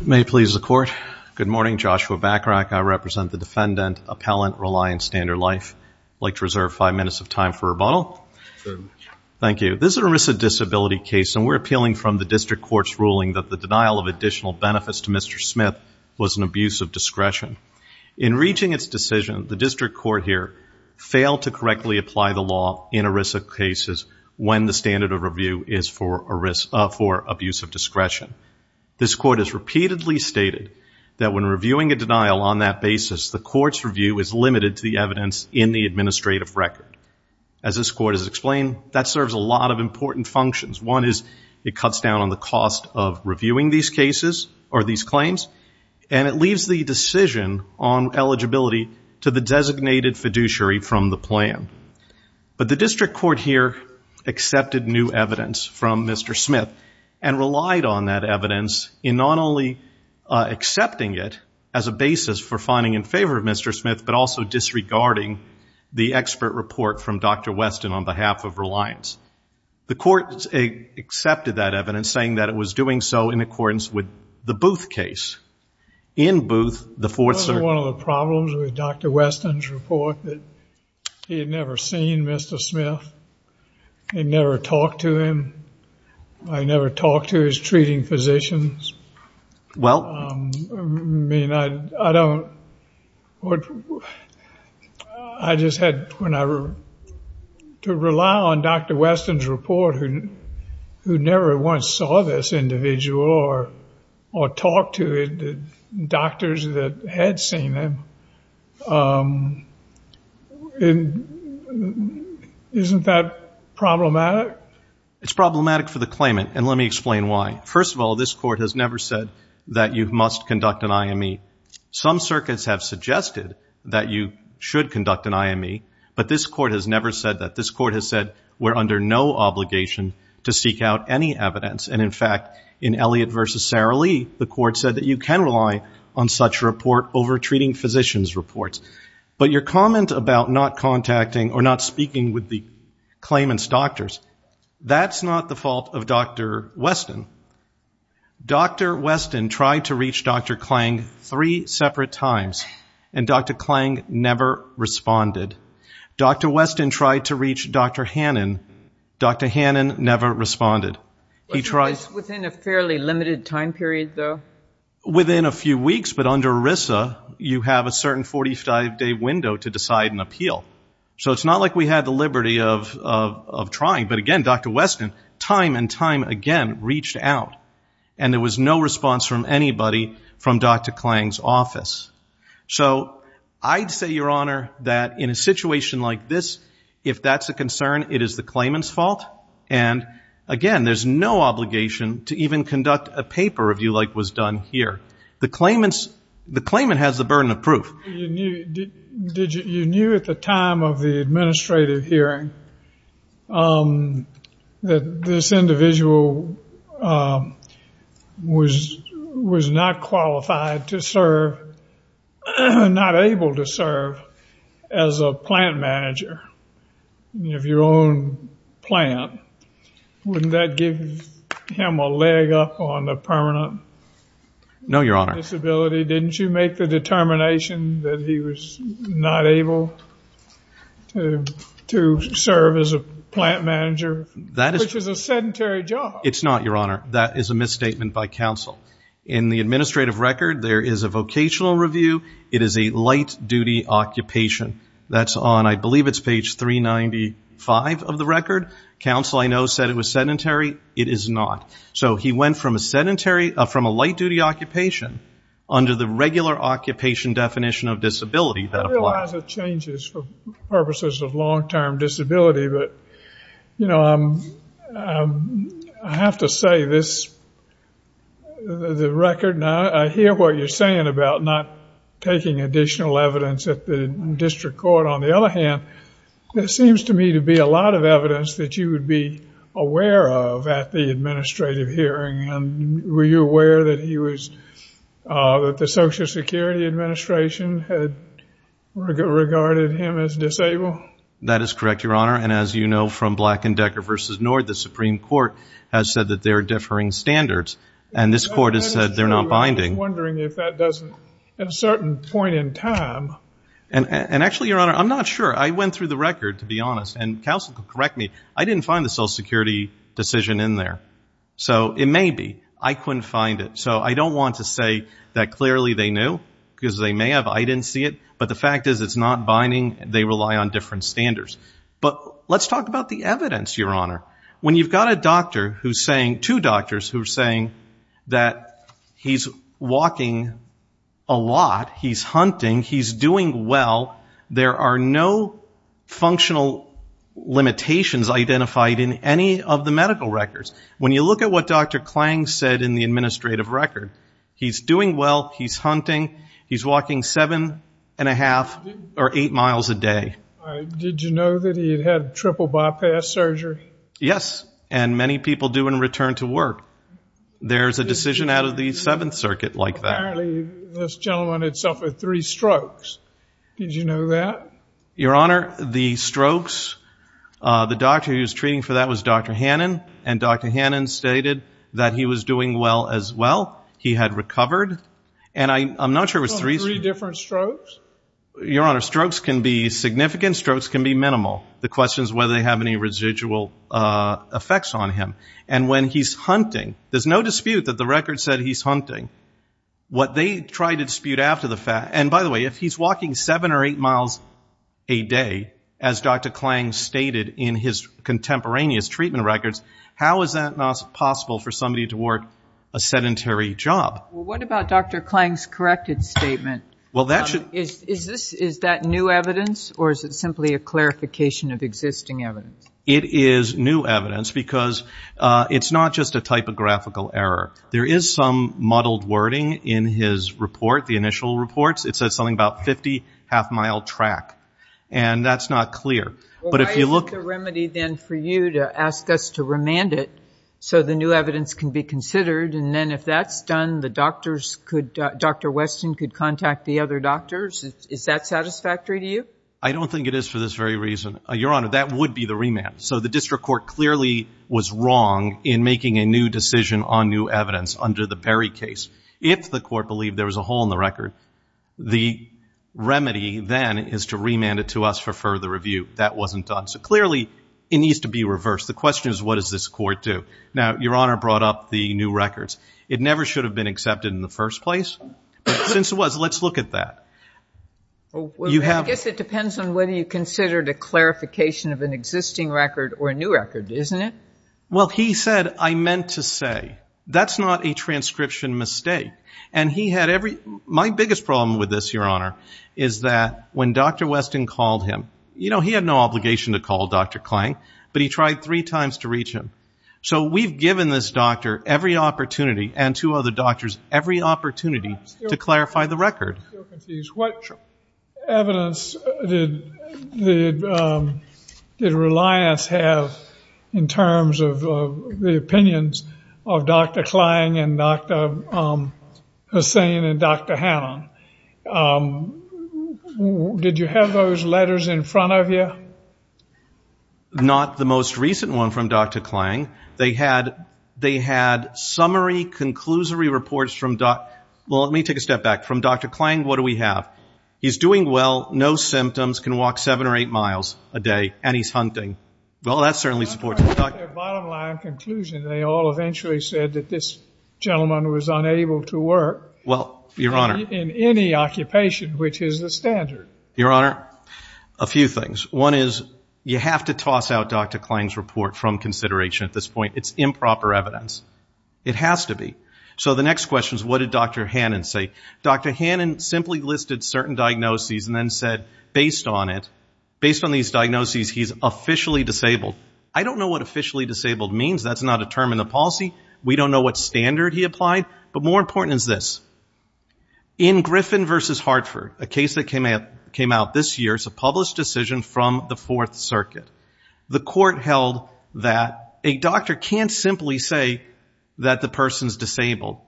May it please the Court. Good morning, Joshua Bacharach. I represent the defendant, Appellant Reliance Standard Life. I'd like to reserve five minutes of time for rebuttal. Thank you. This is an ERISA disability case and we're appealing from the District Court's ruling that the denial of additional benefits to Mr. Smith was an abuse of discretion. In reaching its decision, the District Court here failed to correctly apply the law in ERISA cases when the standard of review is for abuse of discretion. This Court has repeatedly stated that when reviewing a denial on that basis, the Court's review is limited to the evidence in the administrative record. As this Court has explained, that serves a lot of important functions. One is it cuts down on the cost of reviewing these cases or these claims and it leaves the decision on eligibility to the designated fiduciary from the plan. But the District Court accepted new evidence from Mr. Smith and relied on that evidence in not only accepting it as a basis for finding in favor of Mr. Smith, but also disregarding the expert report from Dr. Weston on behalf of Reliance. The Court accepted that evidence saying that it was doing so in accordance with the Booth case. In Booth, the fourth report that he had never seen Mr. Smith and never talked to him. I never talked to his treating physicians. Well, I mean, I don't, I just had to rely on Dr. Weston's report who never once saw this individual or talked to doctors that had seen him. Isn't that problematic? It's problematic for the claimant and let me explain why. First of all, this Court has never said that you must conduct an IME. Some circuits have suggested that you should conduct an IME, but this Court has never said that. This Court has said we're under no obligation to seek out any evidence and in fact, in Elliott v. Sara Lee, the Court said that you can rely on such report over treating physicians reports. But your comment about not contacting or not speaking with the claimant's doctors, that's not the fault of Dr. Weston. Dr. Weston tried to reach Dr. Klang three separate times and Dr. Klang never responded. Dr. Weston tried to reach Dr. Hannon. Dr. Hannon never responded. It was within a fairly limited time period, though? Within a few weeks, but under ERISA, you have a certain 45-day window to decide and appeal. So it's not like we had the liberty of trying, but again, Dr. Weston time and time again reached out and there was no response from anybody from Dr. Klang's office. So I'd say, Your Honor, that in a situation like this, if that's a concern, it is the claimant's fault and again, there's no obligation to even conduct a paper review like was done here. The claimant has the burden of proof. You knew at the time of the administrative hearing that this individual was not qualified to serve, not able to serve as a plant manager of your own plant. Wouldn't that give him a leg up on the permanent disability? No, Your Honor. Didn't you make the determination that he was not able to serve as a plant manager, which is a sedentary job? It's not, Your Honor. That is a misstatement by counsel. In the administrative record, there is a vocational review. It is a light-duty occupation. That's on, I believe it's page 395 of the record. Counsel, I know, said it was sedentary. It is not. So he went from a light-duty occupation under the regular occupation definition of disability that applies. I realize it changes for purposes of long-term disability, but I have to say this, the record, now I hear what you're saying about not taking additional evidence at the district court. On the other hand, there seems to me to be a lot of evidence that you would be Were you aware that the Social Security Administration had regarded him as disabled? That is correct, Your Honor. And as you know from Black & Decker v. Nord, the Supreme Court has said that they're differing standards. And this court has said they're not binding. I'm wondering if that doesn't, at a certain point in time... And actually, Your Honor, I'm not sure. I went through the record, to be honest, and counsel, correct me, I didn't find the Social Security decision in there. So it may be. I couldn't find it. So I don't want to say that clearly they knew, because they may have. I didn't see it. But the fact is it's not binding. They rely on different standards. But let's talk about the evidence, Your Honor. When you've got a doctor who's saying, two doctors who are saying that he's walking a lot, he's hunting, he's doing well, there are no functional limitations identified in any of medical records. When you look at what Dr. Klang said in the administrative record, he's doing well, he's hunting, he's walking seven and a half or eight miles a day. Did you know that he had had triple bypass surgery? Yes. And many people do in return to work. There's a decision out of the Seventh Circuit like that. Apparently, this gentleman had suffered three strokes. Did you know that? Your Honor, the strokes, the doctor who was treating for that was Dr. Hannon. And Dr. Hannon stated that he was doing well as well. He had recovered. And I'm not sure it was three different strokes. Your Honor, strokes can be significant. Strokes can be minimal. The question is whether they have any residual effects on him. And when he's hunting, there's no dispute that the record said he's hunting. What they tried to dispute after the fact, and by the way, he's walking seven or eight miles a day, as Dr. Klang stated in his contemporaneous treatment records, how is that not possible for somebody to work a sedentary job? What about Dr. Klang's corrected statement? Is that new evidence, or is it simply a clarification of existing evidence? It is new evidence because it's not just a typographical error. There is some muddled wording in his report, the initial reports. It says something about 50 half-mile track. And that's not clear. But if you look- Why isn't the remedy then for you to ask us to remand it so the new evidence can be considered? And then if that's done, the doctors could, Dr. Weston could contact the other doctors? Is that satisfactory to you? I don't think it is for this very reason. Your Honor, that would be the remand. So the if the court believed there was a hole in the record, the remedy then is to remand it to us for further review. That wasn't done. So clearly, it needs to be reversed. The question is, what does this court do? Now, Your Honor brought up the new records. It never should have been accepted in the first place. But since it was, let's look at that. You have- Well, I guess it depends on whether you considered a clarification of an existing record or a new record, isn't it? Well, he said, I meant to say. That's not a transcription mistake. And he had every- My biggest problem with this, Your Honor, is that when Dr. Weston called him, you know, he had no obligation to call Dr. Klang, but he tried three times to reach him. So we've given this doctor every opportunity and two other doctors every opportunity to clarify the record. What evidence did Reliance have in terms of the opinions of Dr. Klang and Dr. Hussain and Dr. Hannan? Did you have those letters in front of you? Not the most recent one from Dr. Klang. They had summary, conclusory reports from Dr- Well, let me take a step back. From Dr. Klang, what do we have? He's doing well. No symptoms. Can walk seven or eight miles a day. And he's hunting. Well, that certainly supports it. Their bottom line conclusion, they all eventually said that this gentleman was unable to work- Well, Your Honor- In any occupation, which is the standard. Your Honor, a few things. One is you have to toss out Dr. Klang's report from consideration at this point. It's improper evidence. It has to be. So the next question is, what did Dr. Hannan say? Dr. Hannan simply listed certain diagnoses and then said, based on it, based on these diagnoses, he's officially disabled. I don't know what officially disabled means. That's not a term in the policy. We don't know what standard he applied. But more important is this. In Griffin v. Hartford, a case that came out this year, it's a published decision from the Fourth Circuit. The court held that a doctor can't simply say that the person's disabled.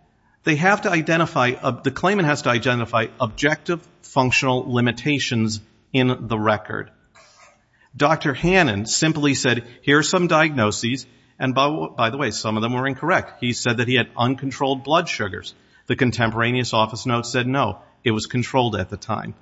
They have to identify- the claimant has to identify objective functional limitations in the record. Dr. Hannan simply said, here are some diagnoses. And by the way, some of them were incorrect. He said that he had uncontrolled blood sugars. The contemporaneous office note said, no, it was controlled at the time.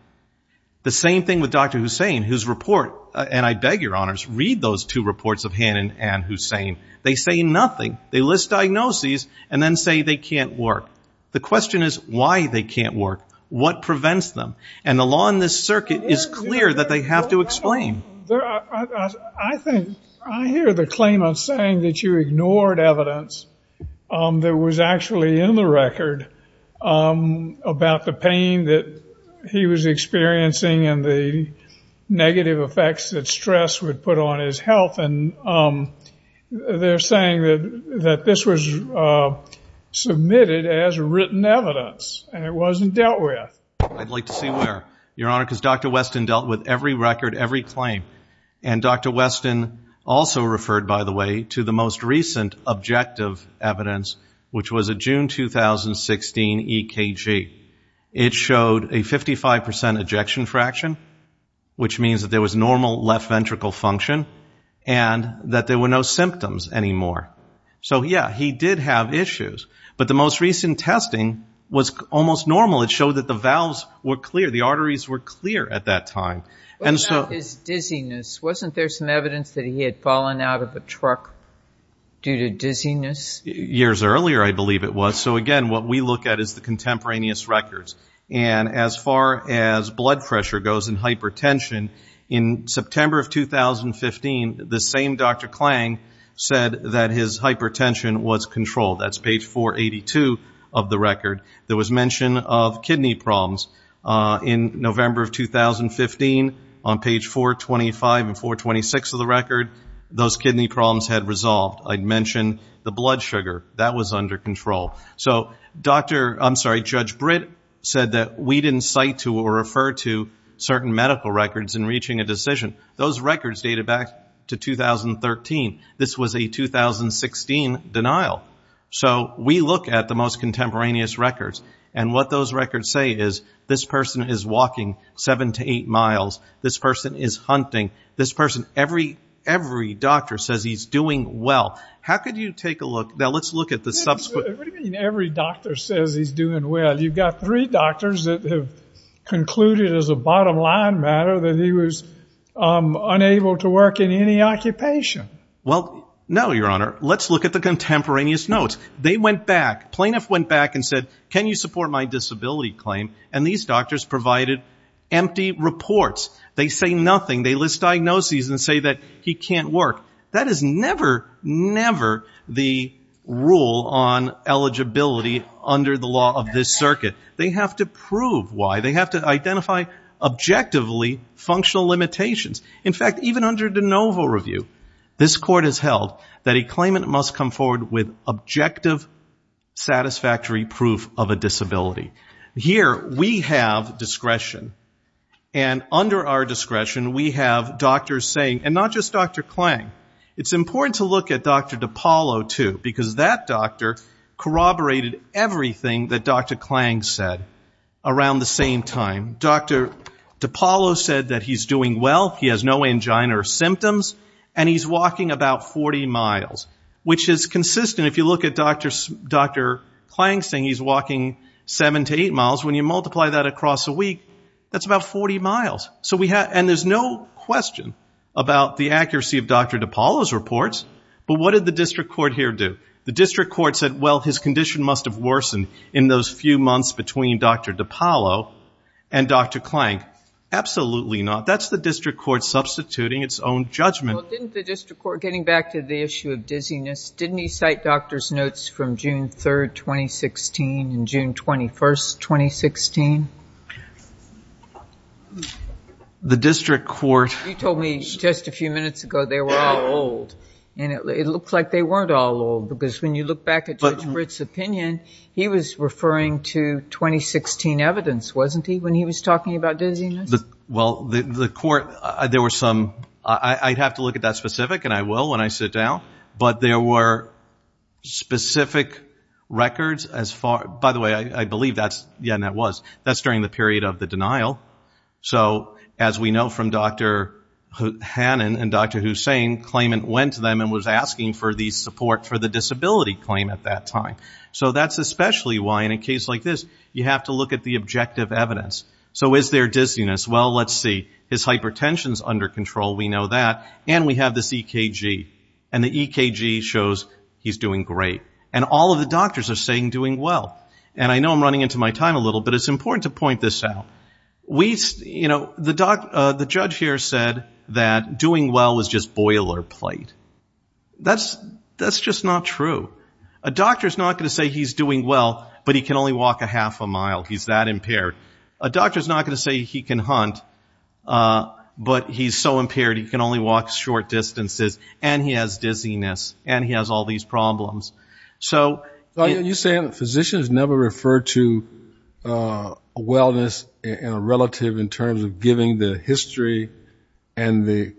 The same thing with Dr. Hussain, whose report- and I beg your honors, read those two reports of Hannan and Hussain. They say nothing. They list diagnoses and then say they can't work. The question is, why they can't work? What prevents them? And the law in this circuit is clear that they have to explain. I hear the claimant saying that you ignored evidence that was actually in the record about the pain that he was experiencing and the negative effects that stress would put on his health. And they're saying that this was submitted as written evidence and it wasn't dealt with. I'd like to see where, Your Honor, because Dr. Weston dealt with every record, every claim. And Dr. Weston also referred, by the way, to the most recent objective evidence, which was June 2016 EKG. It showed a 55 percent ejection fraction, which means that there was normal left ventricle function and that there were no symptoms anymore. So, yeah, he did have issues. But the most recent testing was almost normal. It showed that the valves were clear. The arteries were clear at that time. What about his dizziness? Wasn't there some evidence that he had fallen out of a truck due to dizziness? Years earlier, I believe it was. So, again, what we look at is the contemporaneous records. And as far as blood pressure goes in hypertension, in September of 2015, the same Dr. Klang said that his hypertension was controlled. That's page 482 of the record. There was mention of kidney problems in November of 2015. On page 425 and 426 of the record, those kidney problems had resolved. I'd mention the blood sugar. That was under control. So, I'm sorry, Judge Britt said that we didn't cite to or refer to certain medical records in reaching a decision. Those records dated back to 2013. This was a 2016 denial. So we look at the most contemporaneous records. And what those records say is this person is walking seven to eight miles. This person is hunting. This person, every doctor says he's doing well. How could you take a look? Now, let's look at the subsequent... What do you mean every doctor says he's doing well? You've got three doctors that have concluded as a bottom line matter that he was unable to work in any occupation. Well, no, Your Honor. Let's look at the contemporaneous notes. They went back. Plaintiff went back and said, can you support my disability claim? And these doctors provided empty reports. They say nothing. They list diagnoses and say that he can't work. That is never, never the rule on eligibility under the law of this circuit. They have to prove why. They have to identify objectively functional limitations. In fact, even under de novo review, this court has held that a claimant must come forward with objective, and under our discretion, we have doctors saying... And not just Dr. Klang. It's important to look at Dr. DiPaolo, too, because that doctor corroborated everything that Dr. Klang said around the same time. Dr. DiPaolo said that he's doing well, he has no angina or symptoms, and he's walking about 40 miles, which is consistent. If you look at Dr. Klang saying he's walking seven to eight that's about 40 miles. And there's no question about the accuracy of Dr. DiPaolo's reports, but what did the district court here do? The district court said, well, his condition must have worsened in those few months between Dr. DiPaolo and Dr. Klang. Absolutely not. That's the district court substituting its own judgment. Well, didn't the district court, getting back to the issue of dizziness, didn't he cite doctor's notes from June 3, 2016 and June 21, 2016? The district court... You told me just a few minutes ago they were all old, and it looked like they weren't all old, because when you look back at Judge Britt's opinion, he was referring to 2016 evidence, wasn't he, when he was talking about dizziness? Well, the court, there were some... I'd have to look at that specific, and I will when I sit down, but there were specific records as far... By the way, I believe that's... Yeah, that was. That's during the period of the denial. So as we know from Dr. Hannon and Dr. Hussain, claimant went to them and was asking for the support for the disability claim at that time. So that's especially why in a case like this, you have to look at the objective evidence. So is there dizziness? Well, let's see. His hypertension's under control, we know that, and we have this EKG, and the EKG shows he's doing great. And all of the doctors are saying And I know I'm running into my time a little, but it's important to point this out. The judge here said that doing well is just boilerplate. That's just not true. A doctor's not going to say he's doing well, but he can only walk a half a mile, he's that impaired. A doctor's not going to say he can hunt, but he's so impaired he can only walk short distances, and he has dizziness, and he has all these problems. So you're saying physicians never refer to wellness in a relative in terms of giving the history and the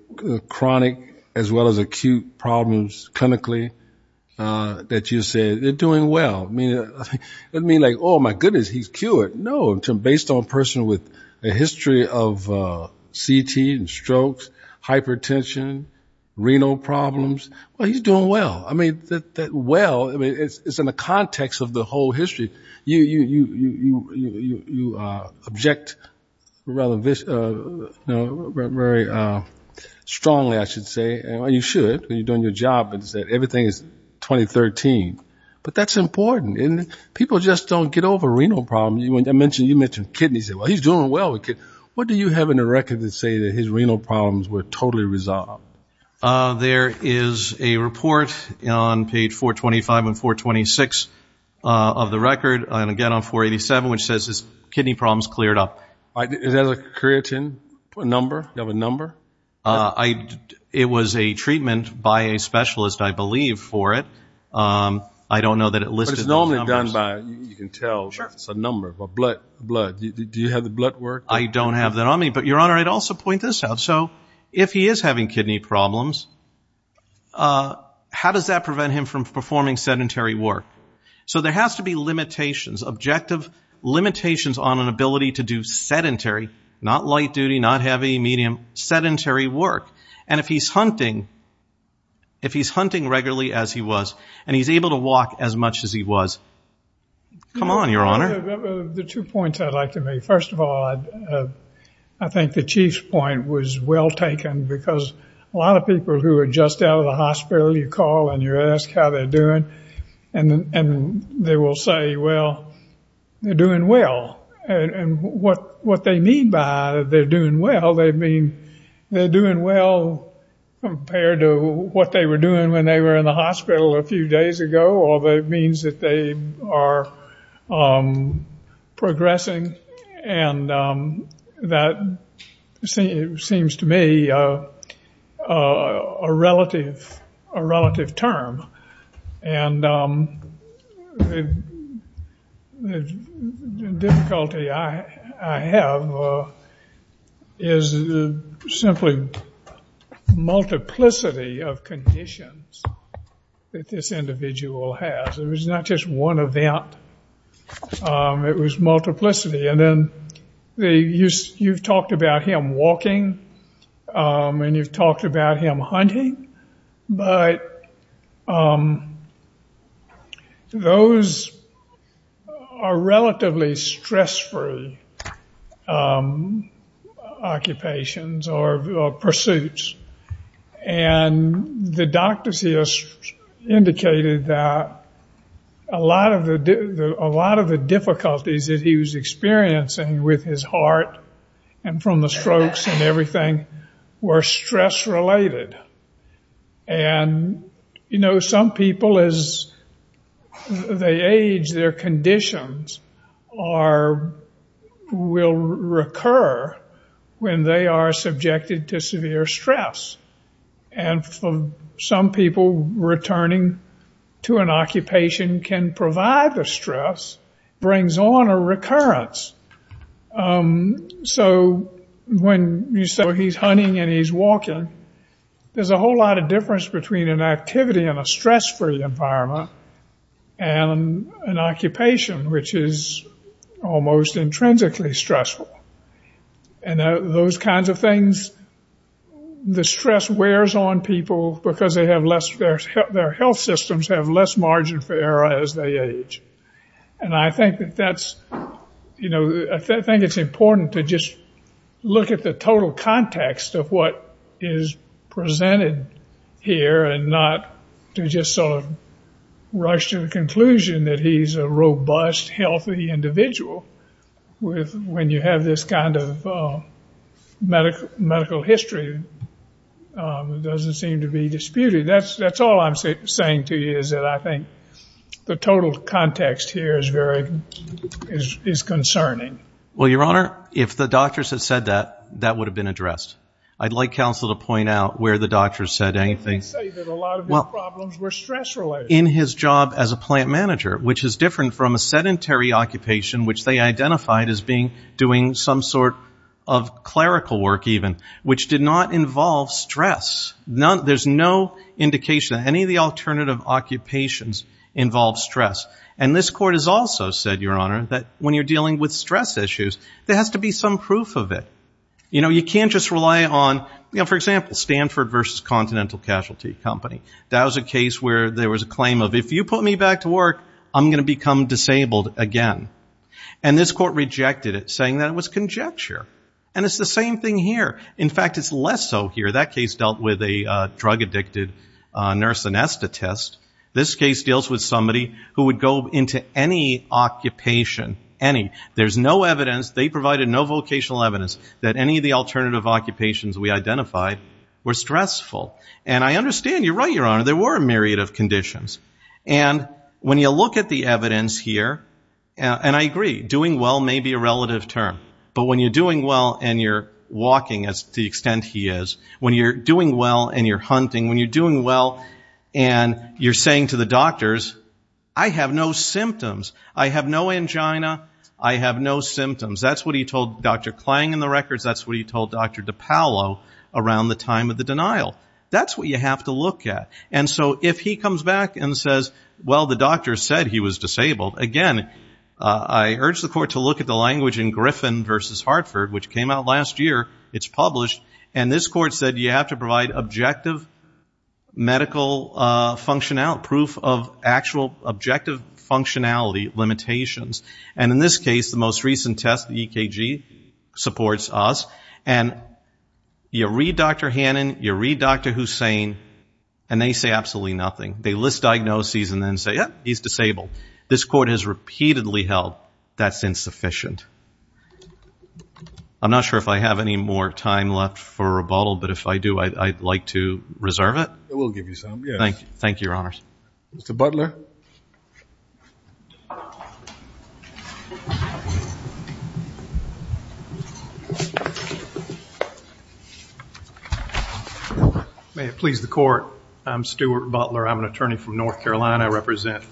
chronic as well as acute problems clinically, that you say they're doing well. It doesn't mean like, oh my goodness, he's cured. No, based on a person with a history of It's in the context of the whole history. You object strongly, I should say, and you should, when you're doing your job, and say everything is 2013. But that's important. People just don't get over renal problems. I mentioned, you mentioned kidneys. Well, he's doing well with kidneys. What do you have in the record that say that his renal problems were totally resolved? There is a report on page 425 and 426 of the record, and again on 487, which says his kidney problems cleared up. Is that a creatine number? Do you have a number? It was a treatment by a specialist, I believe, for it. I don't know that it listed. But it's normally done by, you can tell, it's a number, by blood. Do you have the blood work? I don't have that on me. But, Your Honor, I'd also point this out. So he is having kidney problems. How does that prevent him from performing sedentary work? So there has to be limitations, objective limitations on an ability to do sedentary, not light duty, not heavy, medium, sedentary work. And if he's hunting, if he's hunting regularly as he was, and he's able to walk as much as he was, come on, Your Honor. The two points I'd like to make. First of all, I think the Chief's point was well taken, because a lot of people who are just out of the hospital, you call and you ask how they're doing, and they will say, well, they're doing well. And what they mean by they're doing well, they mean they're doing well compared to what they were doing when they were in the hospital a few days ago, or that means that they are progressing. And that seems to me a relative term. And the difficulty I have is simply multiplicity of conditions that this individual has. It was not just one event. It was multiplicity. And then you've talked about him walking, and you've talked about him hunting, but those are relatively stress-free occupations or pursuits. And the doctors here indicated that a lot of the difficulties that his heart and from the strokes and everything were stress-related. And, you know, some people as they age, their conditions will recur when they are subjected to severe stress. And for some people, returning to an occupation can provide the stress, brings on a recurrence so when you say, well, he's hunting and he's walking, there's a whole lot of difference between an activity in a stress-free environment and an occupation which is almost intrinsically stressful. And those kinds of things, the stress wears on people because they have less, their health systems have less margin for error as they age. And I think that that's, you know, I think it's important to just look at the total context of what is presented here and not to just sort of rush to the conclusion that he's a robust, healthy individual when you have this kind of medical history that doesn't seem to be disputed. That's all I'm saying to you is that I think the total context here is concerning. Well, Your Honor, if the doctors had said that, that would have been addressed. I'd like counsel to point out where the doctors said anything. They say that a lot of his problems were stress-related. In his job as a plant manager, which is different from a sedentary occupation, which they identified as being doing some sort of clerical work even, which did not involve stress. There's no indication that any of the alternative occupations involve stress. And this court has also said, Your Honor, that when you're dealing with stress issues, there has to be some proof of it. You know, you can't just rely on, you know, for example, Stanford versus Continental Casualty Company. That was a case where there was a claim of, if you put me back to work, I'm going to become disabled again. And this court rejected it, saying that it was conjecture. And it's the same thing here. In fact, it's less so here. That case dealt with a drug-addicted nurse anesthetist. This case deals with somebody who would go into any occupation, any. There's no evidence, they provided no vocational evidence, that any of the alternative occupations we identified were stressful. And I understand, you're right, Your Honor, there were a myriad of conditions. And when you look at the evidence here, and I agree, doing well may be a relative term. But when you're doing well and you're walking, as to the extent he is, when you're doing well and you're hunting, when you're doing well and you're saying to the doctors, I have no symptoms. I have no angina. I have no symptoms. That's what he told Dr. Klang in the records. That's what he told Dr. DiPaolo around the time of the denial. That's what you have to look at. And so if he comes back and says, well, the doctor said he was disabled. Again, I urge the court to look at the language in Griffin v. Hartford, which came out last year. It's published. And this court said you have to provide objective medical functionality, proof of actual objective functionality limitations. And in this case, the most recent test, EKG, supports us. And you read Dr. Hannon, you read Dr. Hussain, and they say absolutely nothing. They list diagnoses and then say, yep, he's disabled. This court has repeatedly held that's insufficient. I'm not sure if I have any more time left for rebuttal, but if I do, I'd like to reserve it. I will give you some. Yes. Thank you. Thank you, Your Honors. Mr. Butler. May it please the court. I'm Stuart Butler. I'm an attorney from North Carolina. I represent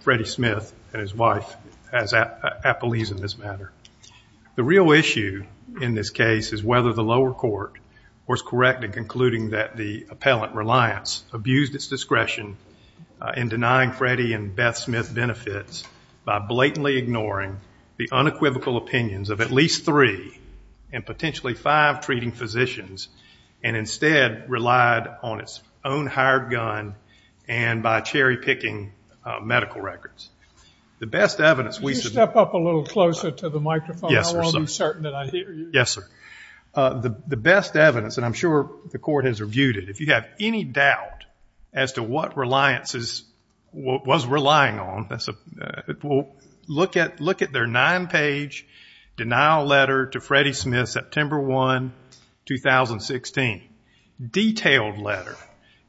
Freddie Smith and his wife as appellees in this matter. The real issue in this case is whether the lower court was correct in concluding that the appellant, Reliance, abused its discretion in denying Freddie and Beth Smith benefits by blatantly ignoring the unequivocal opinions of at least three and potentially five treating physicians, and instead relied on its own hired gun and by cherry-picking medical records. The best evidence we should know- Could you step up a little closer to the microphone? Yes, sir. I want to be certain that I hear you. Yes, sir. The best evidence, and I'm sure the court has reviewed it. If you have any doubt as to what Reliance was relying on, look at their nine-page denial letter to Freddie Smith, September 1, 2016. Detailed letter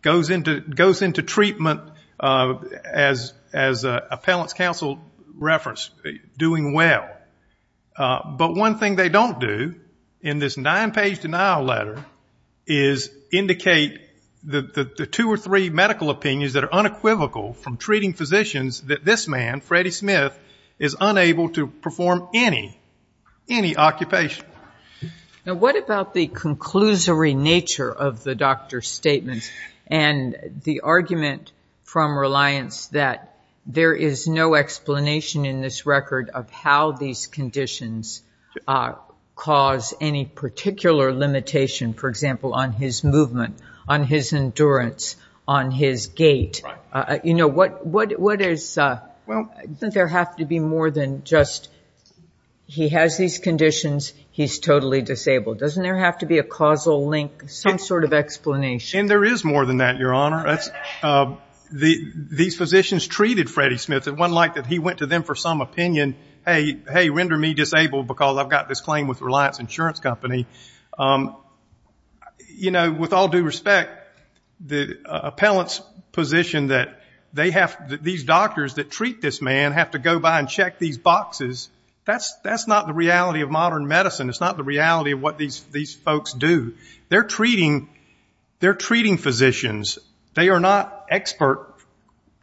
goes into treatment as appellant's counsel referenced, doing well. But one thing they don't do in this nine-page denial letter is indicate the two or three medical opinions that are unequivocal from treating physicians that this man, Freddie Smith, is unable to perform any, any occupation. Now, what about the conclusory nature of the doctor's statements and the argument from Reliance that there is no explanation in this record of how these conditions cause any particular limitation, for example, on his movement, on his endurance, on his gait? Right. You know, what, what, what is, I think there have to be more than just, he has these conditions, he's totally disabled. Doesn't there have to be a causal link, some sort of explanation? And there is more than that, Your Honor. These physicians treated Freddie Smith, it wasn't like that he went to them for some opinion, hey, hey, render me disabled because I've got this claim with Reliance Insurance Company. You know, with all due respect, the appellant's position that they have, these doctors that treat this man have to go by and check these boxes, that's, that's not the reality of modern medicine. It's not the reality of what these, these folks do. They're treating, they're treating physicians. They are not expert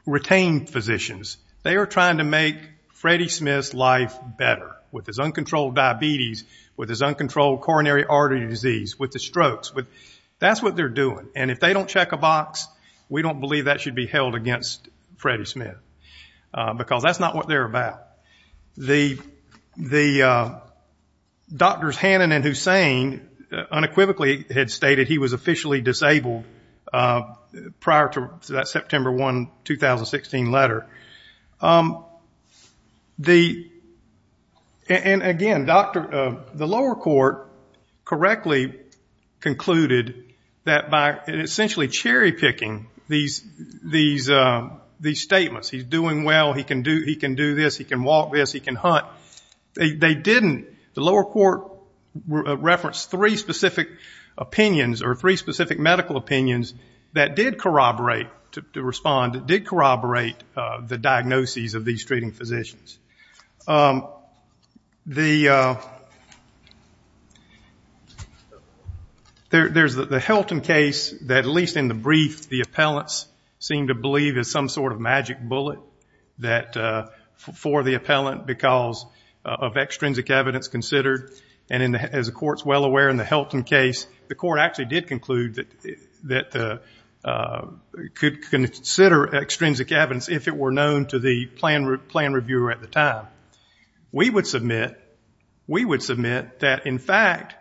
retained physicians. They are trying to make Freddie Smith's life better with his uncontrolled diabetes, with his uncontrolled coronary artery disease, with the strokes. With, that's what they're doing. And if they don't check a box, we don't believe that should be held against Freddie Smith. Because that's not what they're about. The, the doctors Hannon and Hussain unequivocally had stated he was officially disabled prior to that September 1, 2016 letter. The, and again, doctor, the lower court correctly concluded that by essentially cherry picking these, these, these statements, he's doing well, he can do, he can do this, he can walk this, he can hunt. They didn't, the lower court referenced three specific opinions, or three specific medical opinions that did corroborate, to respond, did corroborate the diagnoses of these treating physicians. The, there, there's the, the Helton case that at least in the brief, the appellants seem to believe is some sort of magic bullet that, for the appellant because of extrinsic evidence considered. And in the, as the court's well aware in the Helton case, the court actually did conclude that, that the, could consider extrinsic evidence if it were known to the plan, plan reviewer at the time. We would submit, we would submit that in fact,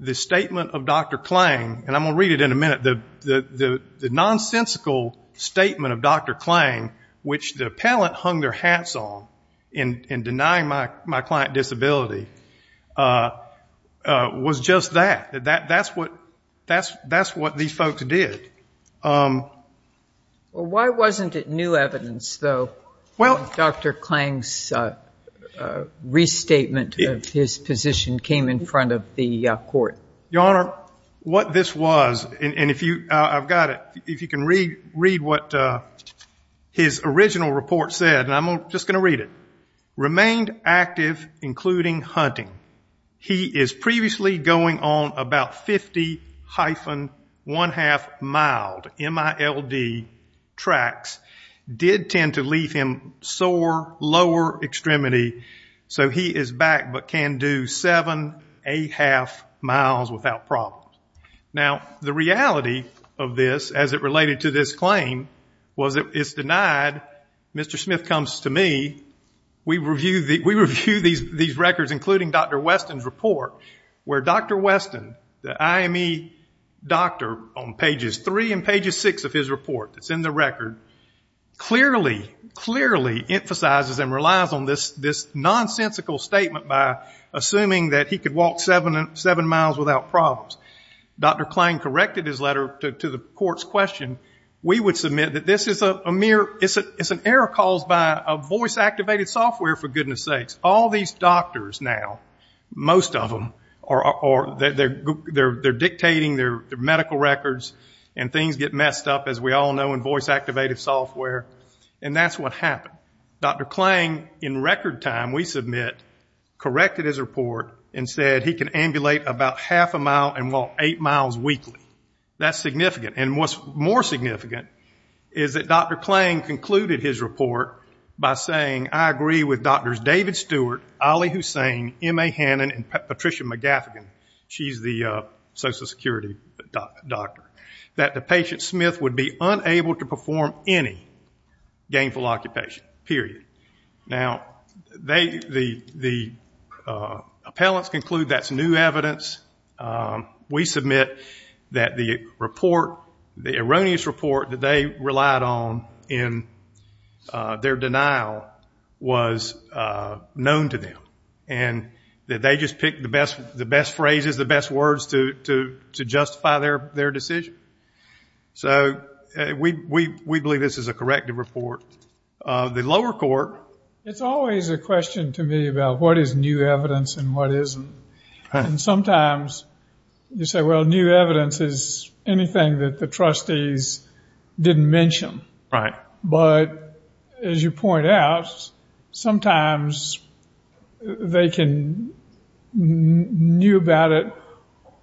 the statement of Dr. Klang, and I'm going to read it in a minute. The, the, the, the nonsensical statement of Dr. Klang, which the appellant hung their hats on in, in denying my, my client disability, was just that, that, that's what, that's, that's what these folks did. Well, why wasn't it new evidence though? Well. Dr. Klang's restatement of his position came in front of the court. Your Honor, what this was, and, and if you, I've got it, if you can read, read what his original report said, and I'm just going to read it. Remained active, including hunting. He is previously going on about 50 hyphen one half miled. M.I.L.D. tracks did tend to leave him sore, lower extremity, so he is back, but can do seven, eight half miles without problem. Now, the reality of this, as it related to this claim, was that it's denied, Mr. Smith comes to me, we review these records, including Dr. Weston's report, where Dr. Weston, the IME doctor, on pages three and pages six of his report, that's in the record, clearly, clearly emphasizes and relies on this nonsensical statement by assuming that he could walk seven miles without problems. Dr. Klein corrected his letter to the court's question. We would submit that this is an error caused by a voice activated software, for goodness sakes. All these doctors now, most of them, they're dictating their medical records, and things get messed up, as we all know, in voice activated software, and that's what happened. Dr. Klein, in record time, we submit, corrected his report and said he can ambulate about half a mile and walk eight miles weekly. That's significant. What's more significant is that Dr. Klein concluded his report by saying, I agree with Drs. David Stewart, Ali Hussain, M.A. Hannon, and Patricia McGaffigan, she's the social security doctor, that the patient Smith would be unable to perform any gainful occupation, period. Now, the appellants conclude that's new evidence. We submit that the report, the erroneous report that they relied on in their denial was known to them, and that they just picked the best phrases, the best words to justify their decision. So we believe this is a corrective report. The lower court... It's always a question to me about what is new evidence and what isn't. And sometimes you say, well, new evidence is anything that the trustees didn't mention. Right. But as you point out, sometimes they can knew about it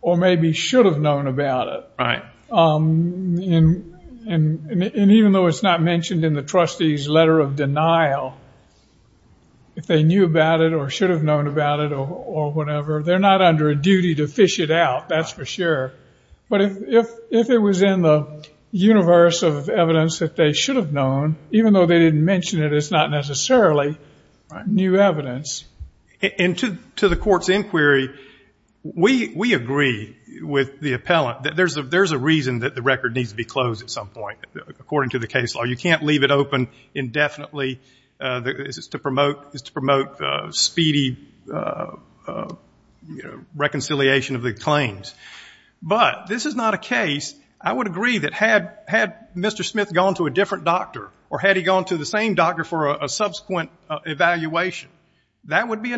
or maybe should have known about it. Right. And even though it's not mentioned in the trustee's letter of denial, if they knew about it or should have known about it or whatever, they're not under a duty to fish it out, that's for sure. But if it was in the universe of evidence that they should have known, even though they didn't mention it, it's not necessarily new evidence. And to the court's inquiry, we agree with the appellant that there's a reason that the record needs to be closed at some point, according to the case law. You can't leave it open indefinitely to promote speedy reconciliation of the claims. But this is not a case... I would agree that had Mr. Smith gone to a different doctor or had he gone to the same doctor for a subsequent evaluation, that would be a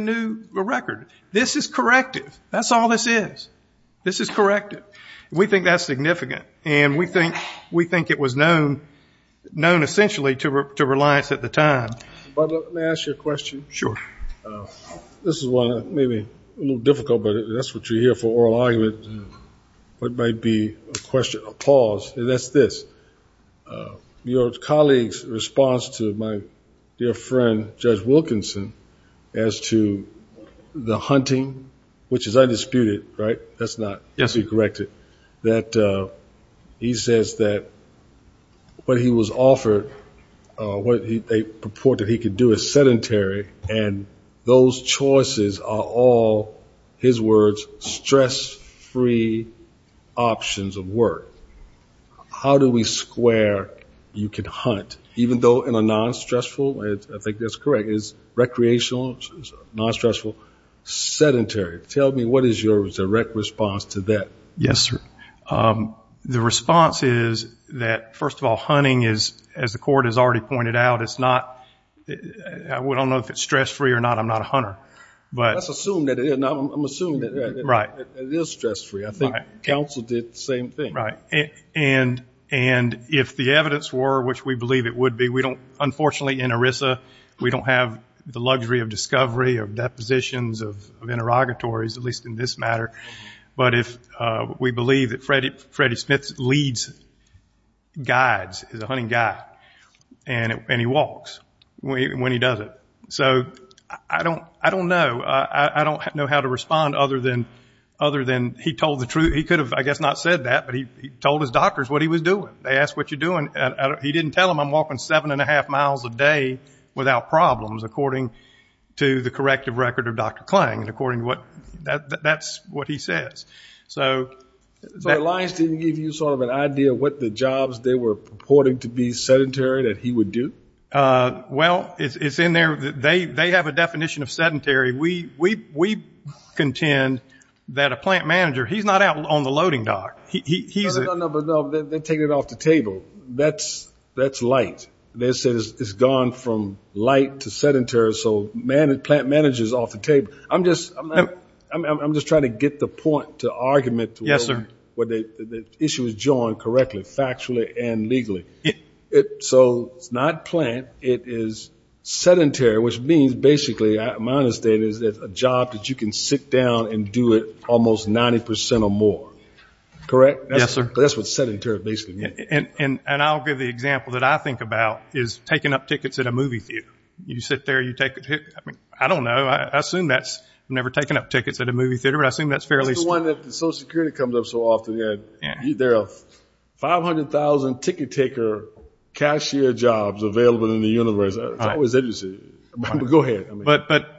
new record. This is corrective. That's all this is. This is corrective. We think that's significant. And we think it was known, essentially, to reliance at the time. But let me ask you a question. Sure. This is one that may be a little difficult, but that's what you hear for oral argument. What might be a question, a pause, and that's this. Your colleague's response to my dear friend Judge Wilkinson as to the hunting, which is undisputed, right? That's not to be corrected. That he says that what he was offered, what they purported he could do is sedentary. And those choices are all, his words, stress-free options of work. How do we square you can hunt, even though in a non-stressful... I think that's correct. It's recreational, non-stressful, sedentary. Tell me, what is your direct response to that? Yes, sir. The response is that, first of all, hunting is, as the court has already pointed out, it's not... I don't know if it's stress-free or not. I'm not a hunter, but... Let's assume that it is. I'm assuming that it is stress-free. I think counsel did the same thing. Right. And if the evidence were, which we believe it would be, we don't... Unfortunately, in ERISA, we don't have the luxury of discovery, of depositions, of interrogatories, at least in this matter. But if we believe that Freddy Smith leads, guides, is a hunting guy, and he walks when he does it. So I don't know. I don't know how to respond other than he told the truth. He could have, I guess, not said that, but he told his doctors what he was doing. They asked, what are you doing? He didn't tell them, I'm walking seven and a half miles a day without problems, according to the corrective record of Dr. Klang. That's what he says. So Alliance didn't give you sort of an idea of what the jobs they were purporting to be sedentary that he would do? Well, it's in there. They have a definition of sedentary. We contend that a plant manager, he's not out on the loading dock. No, no, no, no. They're taking it off the table. That's light. They said it's gone from light to sedentary, so plant managers off the table. I'm just trying to get the point to argument to whether the issue is joined correctly, factually and legally. So it's not plant. It is sedentary, which means, basically, my understanding is that it's a job that you can sit down and do it almost 90% or more. Correct? Yes, sir. That's what sedentary basically means. And I'll give the example that I think about is taking up tickets at a movie theater. You sit there, you take a ticket. I mean, I don't know. I've never taken up tickets at a movie theater, but I assume that's fairly— It's the one that the Social Security comes up so often. There are 500,000 ticket-taker cashier jobs available in the universe. It's always interesting. Go ahead. But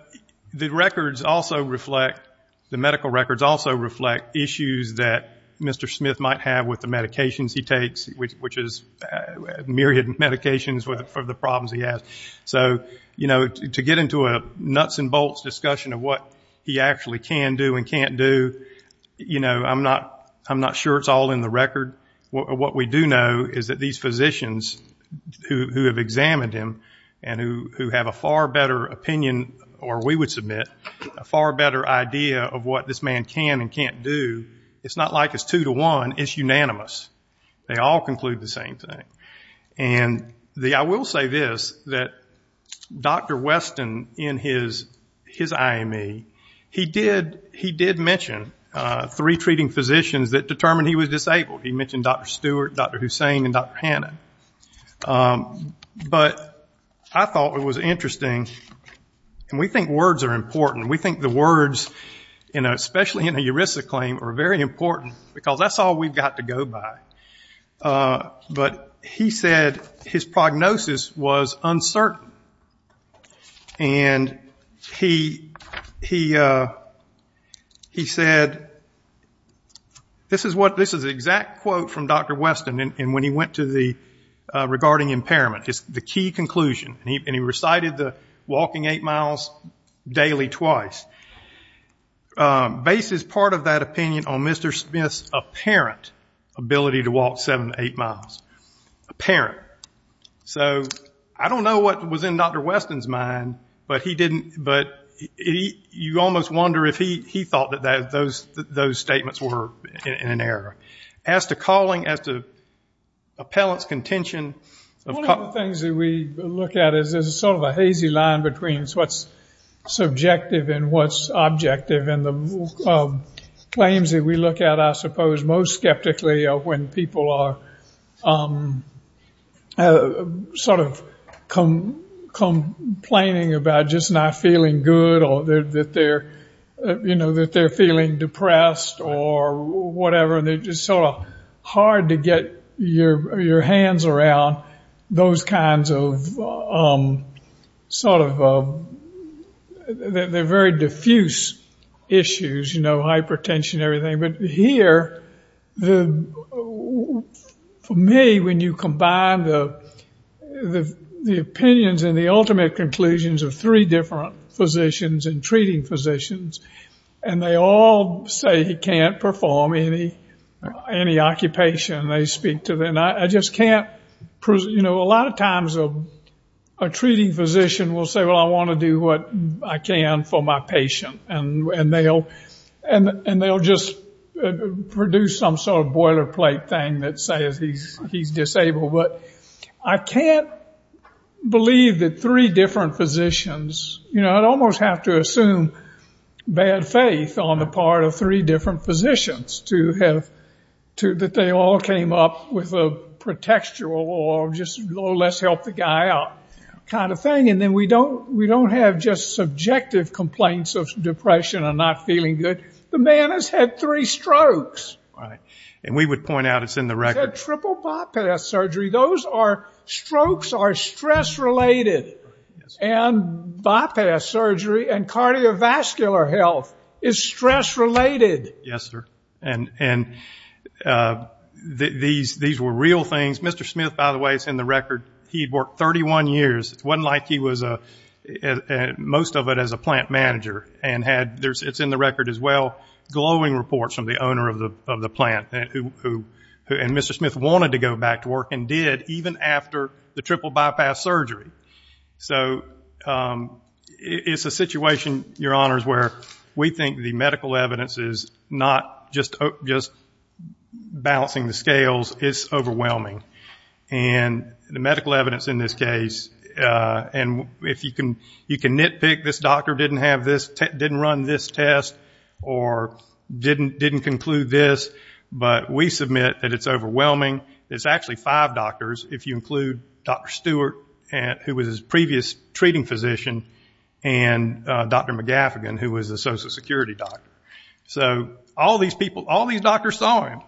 the records also reflect—the medical records also reflect issues that Mr. Smith might have with the medications he takes, which is myriad medications for the problems he has. So, you know, to get into a nuts and bolts discussion of what he actually can do and can't do, you know, I'm not sure it's all in the record. What we do know is that these physicians who have examined him and who have a far better opinion, or we would submit, a far better idea of what this man can and can't do, it's not like it's two to one. It's unanimous. They all conclude the same thing. And I will say this, that Dr. Weston, in his IME, he did mention three treating physicians that determined he was disabled. He mentioned Dr. Stewart, Dr. Hussain, and Dr. Hanna. But I thought it was interesting, and we think words are important. We think the words, you know, especially in a ERISA claim, are very important because that's all we've got to go by. But he said his prognosis was uncertain. And he said, this is an exact quote from Dr. Weston, and when he went to the, regarding impairment, the key conclusion, and he recited the walking eight miles daily twice. It bases part of that opinion on Mr. Smith's apparent ability to walk seven to eight miles. Apparent. So I don't know what was in Dr. Weston's mind, but he didn't, but you almost wonder if he thought that those statements were in error. As to calling, as to appellant's contention. One of the things that we look at is there's sort of a hazy line between what's subjective and what's objective. And the claims that we look at, I suppose, most skeptically are when people are sort of complaining about just not feeling good or that they're, you know, that they're feeling depressed or whatever. They're just sort of hard to get your hands around those kinds of sort of, they're very diffuse issues. You know, hypertension, everything. But here, for me, when you combine the opinions and the ultimate conclusions of three different physicians and treating physicians, and they all say he can't perform any occupation. They speak to, and I just can't, you know, a lot of times a treating physician will say, well, I want to do what I can for my patient. And they'll just produce some sort of boilerplate thing that says he's disabled. But I can't believe that three different physicians, you know, I'd almost have to assume bad faith on the part of three different physicians to have, that they all came up with a pretextual or just, oh, let's help the guy out kind of thing. And then we don't have just subjective complaints of depression or not feeling good. The man has had three strokes. Right. And we would point out it's in the record. He's had triple bypass surgery. Those are, strokes are stress-related. And bypass surgery and cardiovascular health is stress-related. Yes, sir. And these were real things. Mr. Smith, by the way, it's in the record. He'd worked 31 years. It wasn't like he was a, most of it as a plant manager. And had, it's in the record as well, glowing reports from the owner of the plant. And Mr. Smith wanted to go back to work and did, even after the triple bypass surgery. So it's a situation, your honors, where we think the medical evidence is not just balancing the scales. It's overwhelming. And the medical evidence in this case, and if you can nitpick, this doctor didn't have this, didn't run this test, or didn't conclude this. But we submit that it's overwhelming. There's actually five doctors, if you include Dr. Stewart, who was his previous treating physician, and Dr. McGaffigan, who was a social security doctor. So all these people, all these doctors saw him.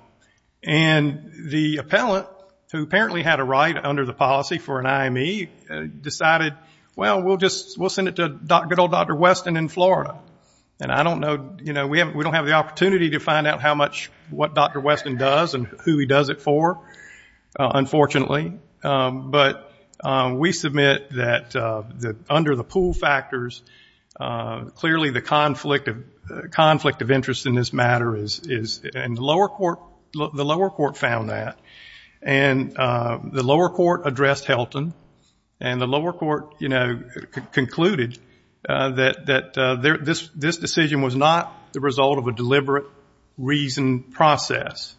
And the appellant, who apparently had a right under the policy for an IME, decided, well, we'll send it to good old Dr. Weston in Florida. And I don't know, you know, we don't have the opportunity to find out how much, what Dr. Weston does and who he does it for, unfortunately. But we submit that under the pool factors, clearly the conflict of interest in this matter is, and the lower court found that. And the lower court addressed Helton. And the lower court, you know, concluded that this decision was not the result of a deliberate reason process.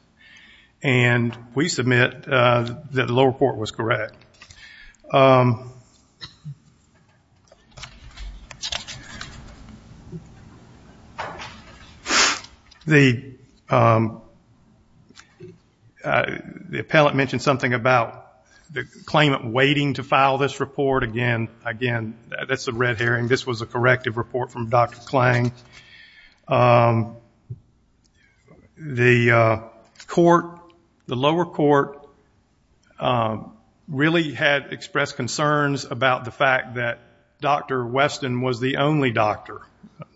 And we submit that the lower court was correct. The appellant mentioned something about the claimant waiting to file this report. Again, again, that's the red herring. This was a corrective report from Dr. Klang. The court, the lower court really had expressed concerns about the fact that Dr. Weston was the only doctor,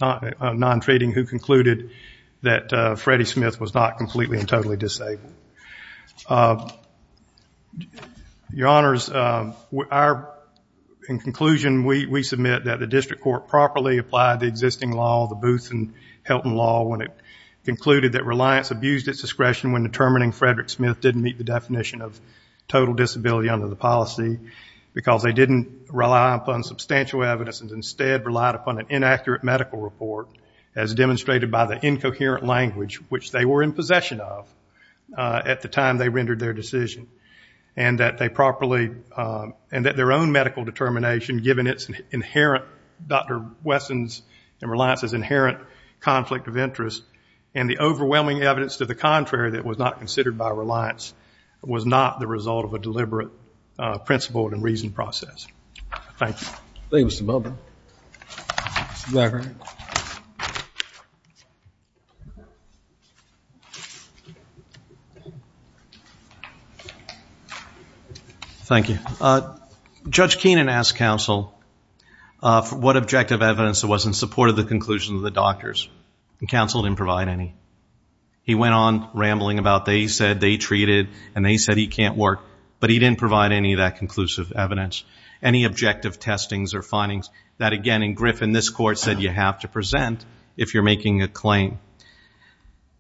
non-treating, who concluded that Freddie Smith was not completely and totally disabled. Your honors, our, in conclusion, we submit that the district court properly applied the Booth and Helton law when it concluded that Reliance abused its discretion when determining Frederick Smith didn't meet the definition of total disability under the policy because they didn't rely upon substantial evidence and instead relied upon an inaccurate medical report as demonstrated by the incoherent language which they were in possession of at the time they rendered their decision. And that they properly, and that their own medical determination, given its inherent Dr. Weston's and Reliance's inherent conflict of interest and the overwhelming evidence to the contrary that was not considered by Reliance was not the result of a deliberate principled and reasoned process. Thank you. Thank you, Mr. Melvin. Thank you. Judge Keenan asked counsel what objective evidence there was in support of the conclusion of the doctors. And counsel didn't provide any. He went on rambling about they said they treated and they said he can't work. But he didn't provide any of that conclusive evidence, any objective testings or findings that, again, in Griffin, this court said you have to present if you're making a claim.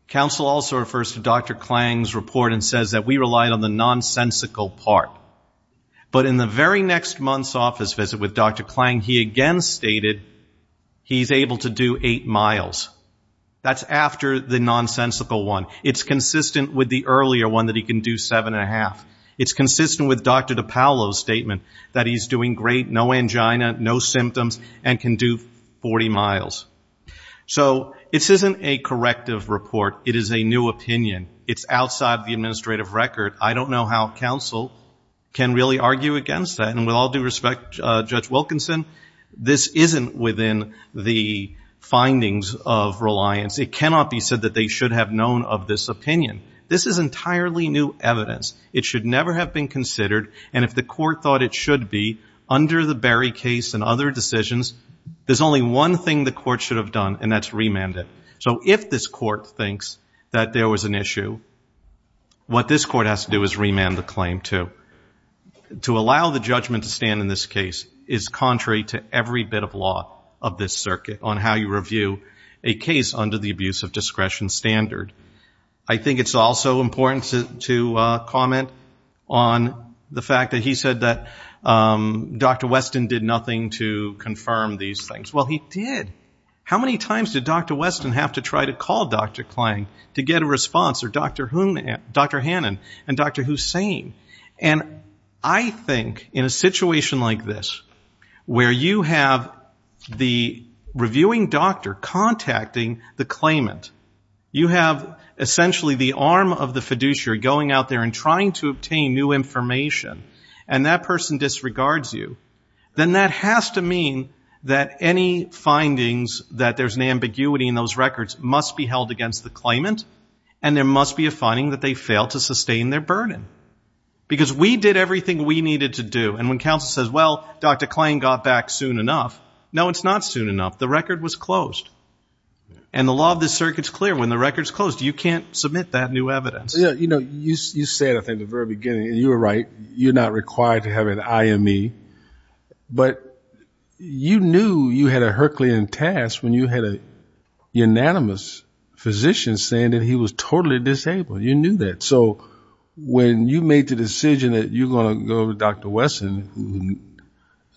Counsel also refers to Dr. Klang's report and says that we relied on the nonsensical part. But in the very next month's office visit with Dr. Klang, he again stated he's able to do eight miles. That's after the nonsensical one. It's consistent with the earlier one that he can do seven and a half. It's consistent with Dr. DiPaolo's statement that he's doing great, no angina, no symptoms, and can do 40 miles. So this isn't a corrective report. It is a new opinion. It's outside the administrative record. I don't know how counsel can really argue against that. And with all due respect, Judge Wilkinson, this isn't within the findings of reliance. It cannot be said that they should have known of this opinion. This is entirely new evidence. It should never have been considered. And if the court thought it should be, under the Berry case and other decisions, there's only one thing the court should have done, and that's remand it. So if this court thinks that there was an issue, what this court has to do is remand the claim, too. To allow the judgment to stand in this case is contrary to every bit of law of this circuit on how you review a case under the abuse of discretion standard. I think it's also important to comment on the fact that he said that Dr. Weston did nothing to confirm these things. Well, he did. How many times did Dr. Weston have to try to call Dr. Klang to get a response? Or Dr. Hannan and Dr. Hussain? And I think in a situation like this, where you have the reviewing doctor contacting the claimant, you have essentially the arm of the fiduciary going out there and trying to obtain new information, and that person disregards you, then that has to mean that any findings that there's an ambiguity in those records must be held against the claimant, and there must be a finding that they fail to sustain their burden. Because we did everything we needed to do. And when counsel says, well, Dr. Klang got back soon enough. No, it's not soon enough. The record was closed. And the law of the circuit's clear. When the record's closed, you can't submit that new evidence. Yeah, you know, you said, I think, at the very beginning, and you were right, you're required to have an IME, but you knew you had a Herculean task when you had a unanimous physician saying that he was totally disabled. You knew that. So when you made the decision that you're going to go to Dr. Wesson,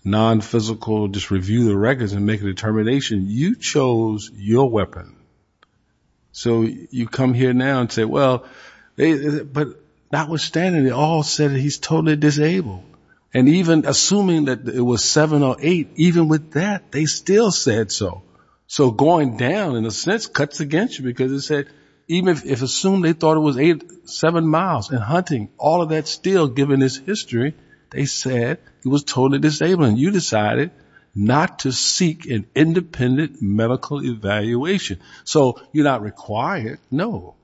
non-physical, just review the records and make a determination, you chose your weapon. So you come here now and say, well, but notwithstanding, it all said that he's totally disabled. And even assuming that it was seven or eight, even with that, they still said so. So going down, in a sense, cuts against you. Because it said, even if assumed they thought it was seven miles and hunting, all of that still, given his history, they said he was totally disabled. And you decided not to seek an independent medical evaluation. So you're not required, no.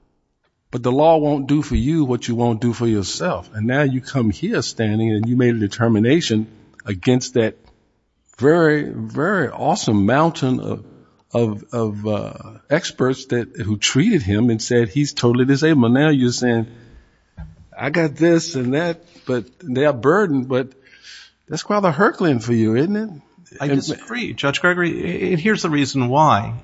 But the law won't do for you what you won't do for yourself. And now you come here standing and you made a determination against that very, very awesome mountain of experts who treated him and said he's totally disabled. But now you're saying, I got this and that, but they are burdened. But that's quite a Herculean for you, isn't it? I disagree. Judge Gregory, here's the reason why.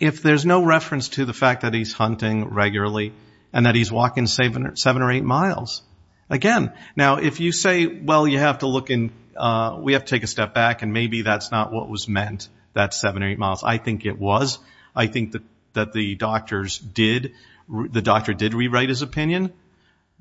If there's no reference to the fact that he's hunting regularly and that he's walking seven or eight miles, again, now if you say, well, you have to look and we have to take a step back and maybe that's not what was meant, that seven or eight miles. I think it was. I think that the doctors did. The doctor did rewrite his opinion.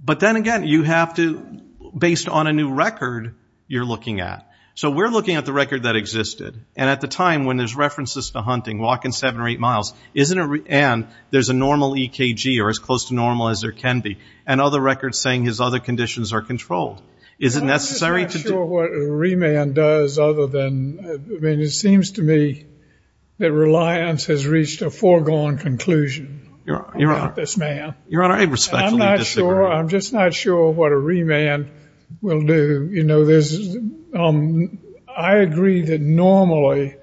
But then again, you have to, based on a new record, you're looking at. So we're looking at the record that existed. And at the time when there's references to hunting, walking seven or eight miles, and there's a normal EKG, or as close to normal as there can be, and other records saying his other conditions are controlled. Is it necessary? I'm just not sure what a remand does other than, I mean, it seems to me that Reliance has reached a foregone conclusion about this man. Your Honor, I respectfully disagree. I'm just not sure what a remand will do. You know, I agree that normally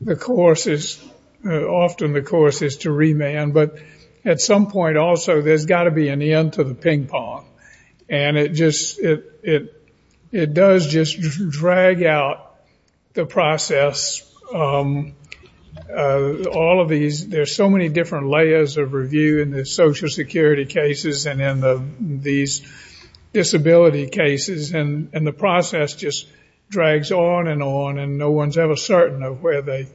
the course is, often the course is to remand. But at some point also, there's got to be an end to the ping pong. And it just, it does just drag out the process. All of these, there's so many different layers of review in the social security cases and these disability cases. And the process just drags on and on. And no one's ever certain of where they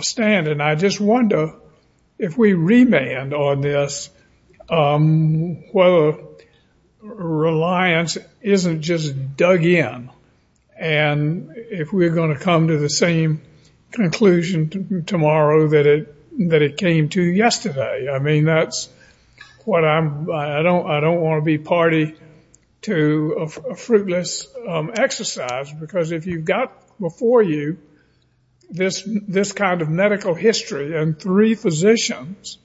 stand. And I just wonder, if we remand on this, whether Reliance isn't just dug in. And if we're going to come to the same conclusion tomorrow that it came to yesterday. I mean, that's what I'm, I don't want to be party to a fruitless exercise. Because if you've got before you this kind of medical history and three physicians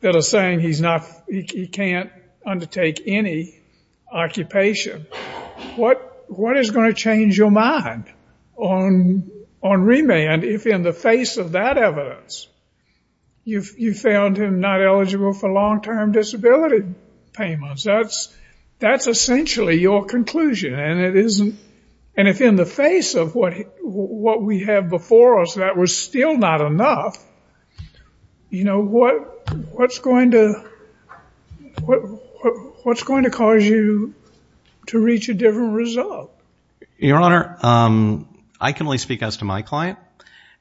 that are saying he's not, he can't undertake any occupation, what is going to change your mind on remand if in the face of that evidence, you found him not eligible for long-term disability payments? That's essentially your conclusion. And it isn't, and if in the face of what we have before us, that was still not enough. You know, what's going to cause you to reach a different result? Your Honor, I can only speak as to my client.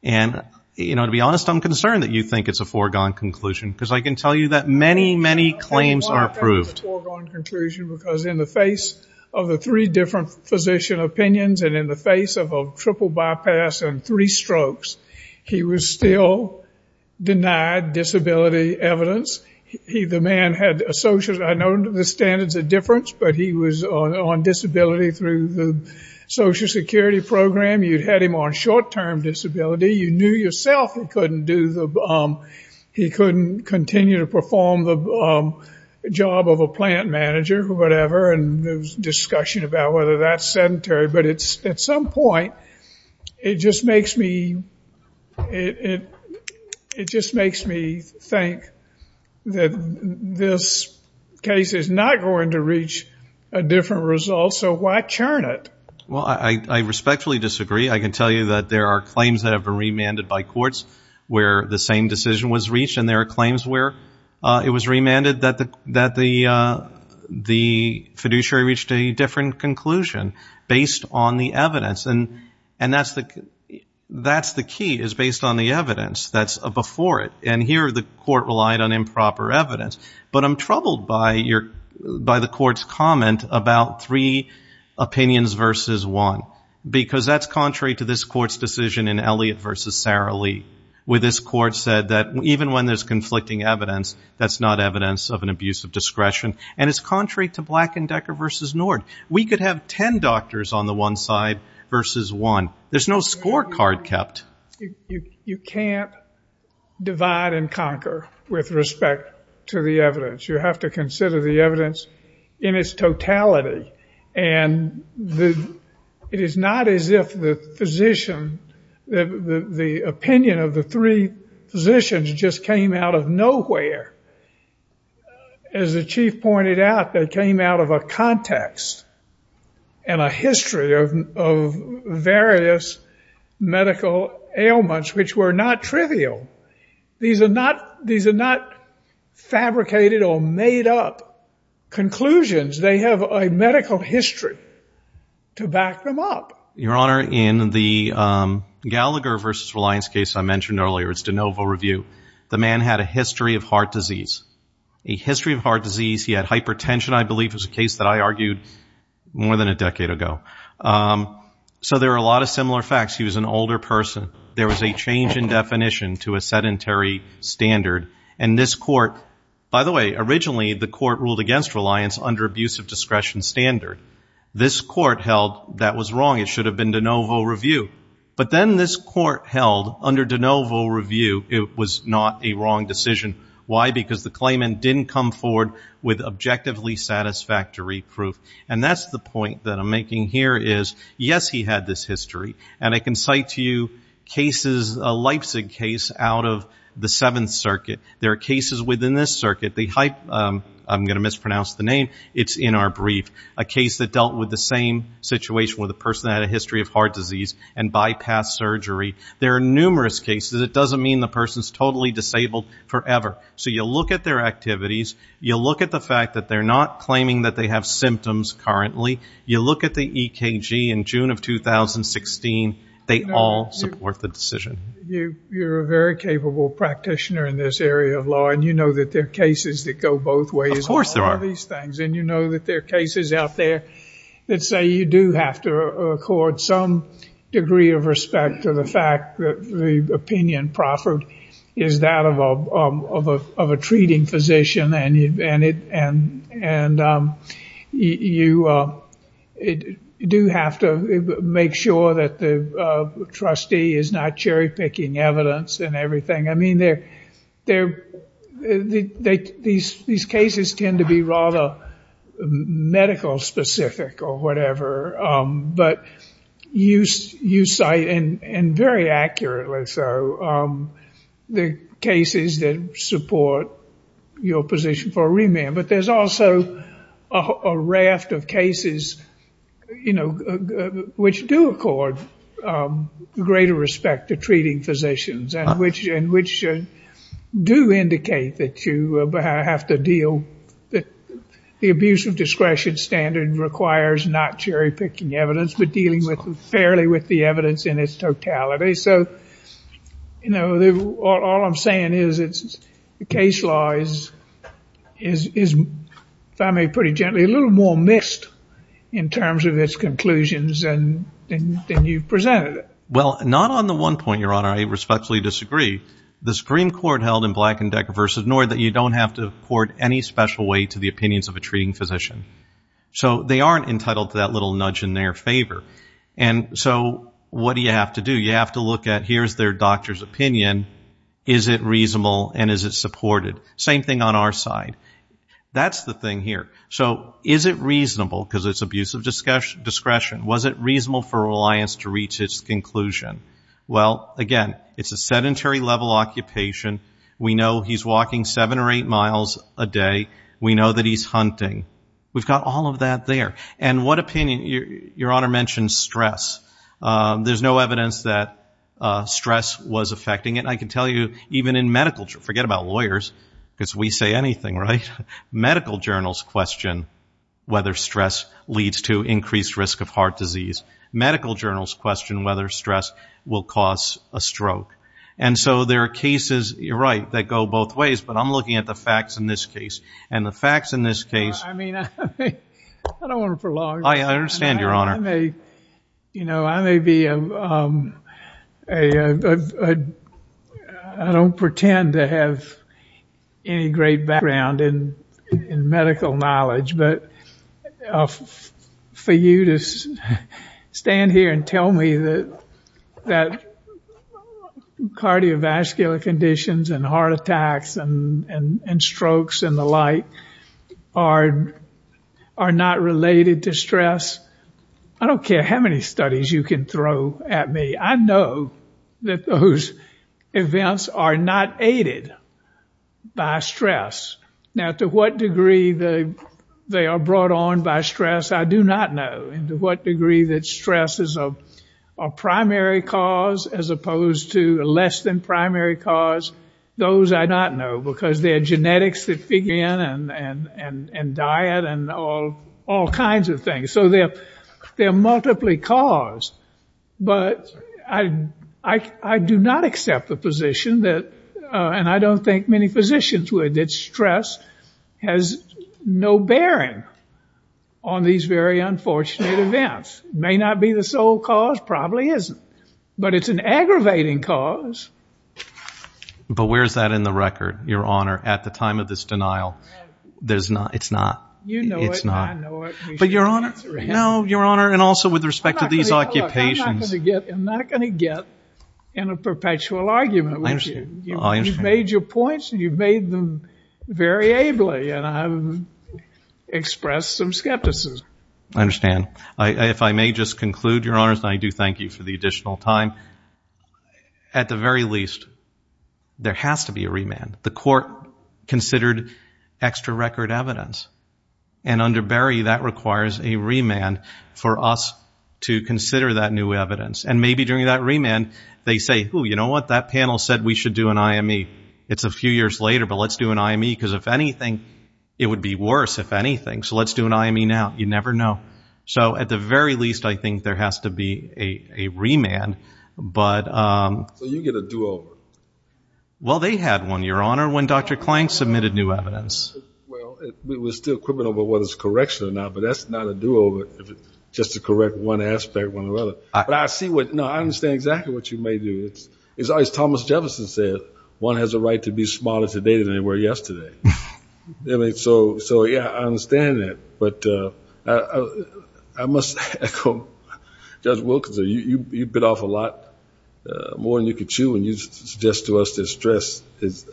And, you know, to be honest, I'm concerned that you think it's a foregone conclusion. Because I can tell you that many, many claims are approved. It's a foregone conclusion because in the face of the three different physician opinions and in the face of a triple bypass and three strokes, he was still denied disability evidence. The man had, I know the standards are different, but he was on disability through the Social Security program. You'd had him on short-term disability. You knew yourself he couldn't do the, he couldn't continue to perform the job of a plant manager or whatever. And there was discussion about whether that's sedentary. But at some point, it just makes me, it just makes me think that this case is not going to reach a different result. So why churn it? Well, I respectfully disagree. I can tell you that there are claims that have been remanded by courts where the same decision was reached. And there are claims where it was remanded that the, that the, the fiduciary reached a different conclusion based on the evidence. And, and that's the, that's the key is based on the evidence that's before it. And here the court relied on improper evidence. But I'm troubled by your, by the court's comment about three opinions versus one, because that's contrary to this court's decision in Elliott versus Sara Lee, where this court said that even when there's conflicting evidence, that's not evidence of an abuse of discretion. And it's contrary to Black and Decker versus Nord. We could have 10 doctors on the one side versus one. There's no scorecard kept. You can't divide and conquer with respect to the evidence. You have to consider the evidence in its totality. And the, it is not as if the physician, the opinion of the three physicians just came out of nowhere. As the chief pointed out, they came out of a context and a history of, of various medical ailments, which were not trivial. These are not, these are not fabricated or made up conclusions. They have a medical history to back them up. Your Honor, in the Gallagher versus Reliance case I mentioned earlier, it's de novo review. The man had a history of heart disease, a history of heart disease. He had hypertension. I believe it was a case that I argued more than a decade ago. So there are a lot of similar facts. He was an older person. There was a change in definition to a sedentary standard. And this court, by the way, originally the court ruled against Reliance under abuse of discretion standard. This court held that was wrong. It should have been de novo review. But then this court held under de novo review, it was not a wrong decision. Why? Because the claimant didn't come forward with objectively satisfactory proof. And that's the point that I'm making here is, yes, he had this history. And I can cite to you cases, a Leipzig case out of the Seventh Circuit. There are cases within this circuit, the Hype, I'm going to mispronounce the name. It's in our brief. A case that dealt with the same situation with a person that had a history of heart disease and bypass surgery. There are numerous cases. It doesn't mean the person is totally disabled forever. So you look at their activities. You look at the fact that they're not claiming that they have symptoms currently. You look at the EKG in June of 2016. They all support the decision. You're a very capable practitioner in this area of law. And you know that there are cases that go both ways. Of course there are. And you know that there are cases out there that say you do have to accord some degree of respect to the fact that the opinion proffered is that of a treating physician. And you do have to make sure that the trustee is not cherry picking evidence and everything. I mean, these cases tend to be rather medical specific or whatever. But you cite, and very accurately so, the cases that support your position for a remand. But there's also a raft of cases, you know, which do accord greater respect to treating physicians and which do indicate that you have to deal with the abuse of discretion standard requires not cherry picking evidence but dealing fairly with the evidence in its totality. So, you know, all I'm saying is the case law is, if I may pretty gently, a little more mixed in terms of its conclusions than you've presented it. Well, not on the one point, Your Honor. I respectfully disagree. The Supreme Court held in Black & Decker v. Nord that you don't have to accord any special weight to the opinions of a treating physician. So they aren't entitled to that little nudge in their favor. And so what do you have to do? You have to look at, here's their doctor's opinion. Is it reasonable and is it supported? Same thing on our side. That's the thing here. So is it reasonable, because it's abuse of discretion, was it reasonable for Reliance to reach its conclusion? Well, again, it's a sedentary level occupation. We know he's walking seven or eight miles a day. We know that he's hunting. We've got all of that there. And what opinion? Your Honor mentioned stress. There's no evidence that stress was affecting it. And I can tell you, even in medical journals, forget about lawyers, because we say anything, right? Medical journals question whether stress leads to increased risk of heart disease. Medical journals question whether stress will cause a stroke. And so there are cases, you're right, that go both ways. But I'm looking at the facts in this case. And the facts in this case- I mean, I don't want to prolong. I understand, Your Honor. I may, you know, I may be a, I don't pretend to have any great background in medical knowledge. But for you to stand here and tell me that cardiovascular conditions and heart attacks and strokes and the like are not related to stress, I don't care how many studies you can throw at me. I know that those events are not aided by stress. Now, to what degree they are brought on by stress, I do not know. And to what degree that stress is a primary cause as opposed to a less than primary cause, those I do not know. Because they're genetics that begin and diet and all kinds of things. So they're multiply caused. But I do not accept the position that, and I don't think many physicians would, that stress has no bearing on these very unfortunate events. May not be the sole cause. Probably isn't. But it's an aggravating cause. But where's that in the record, Your Honor, at the time of this denial? There's not, it's not. You know it, I know it. But Your Honor, no, Your Honor, and also with respect to these occupations- I'm not going to get in a perpetual argument with you. I understand. You've made your points and you've made them very ably. And I've expressed some skepticism. I understand. If I may just conclude, Your Honors, and I do thank you for the additional time. At the very least, there has to be a remand. The court considered extra record evidence. And under Berry, that requires a remand for us to consider that new evidence. And maybe during that remand, they say, oh, you know what? That panel said we should do an IME. It's a few years later, but let's do an IME. Because if anything, it would be worse, if anything. So let's do an IME now. You never know. So at the very least, I think there has to be a remand. But- So you get a do-over. Well, they had one, Your Honor, when Dr. Clank submitted new evidence. Well, we're still quibbling over whether it's a correction or not. But that's not a do-over, if it's just to correct one aspect or another. But I see what, no, I understand exactly what you may do. As Thomas Jefferson said, one has a right to be smaller today than they were yesterday. So yeah, I understand that. But I must echo Judge Wilkinson. You bit off a lot more than you could chew. And you suggest to us that stress is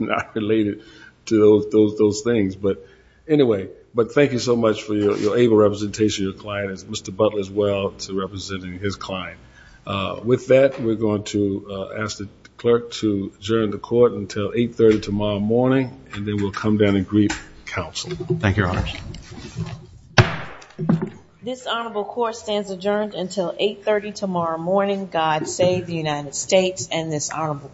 not related to those things. But anyway, thank you so much for your able representation of your client, as Mr. Butler as well, to representing his client. With that, we're going to ask the clerk to adjourn the court until 8.30 tomorrow morning. And then we'll come down and greet counsel. Thank you, Your Honors. This honorable court stands adjourned until 8.30 tomorrow morning. God save the United States and this honorable court.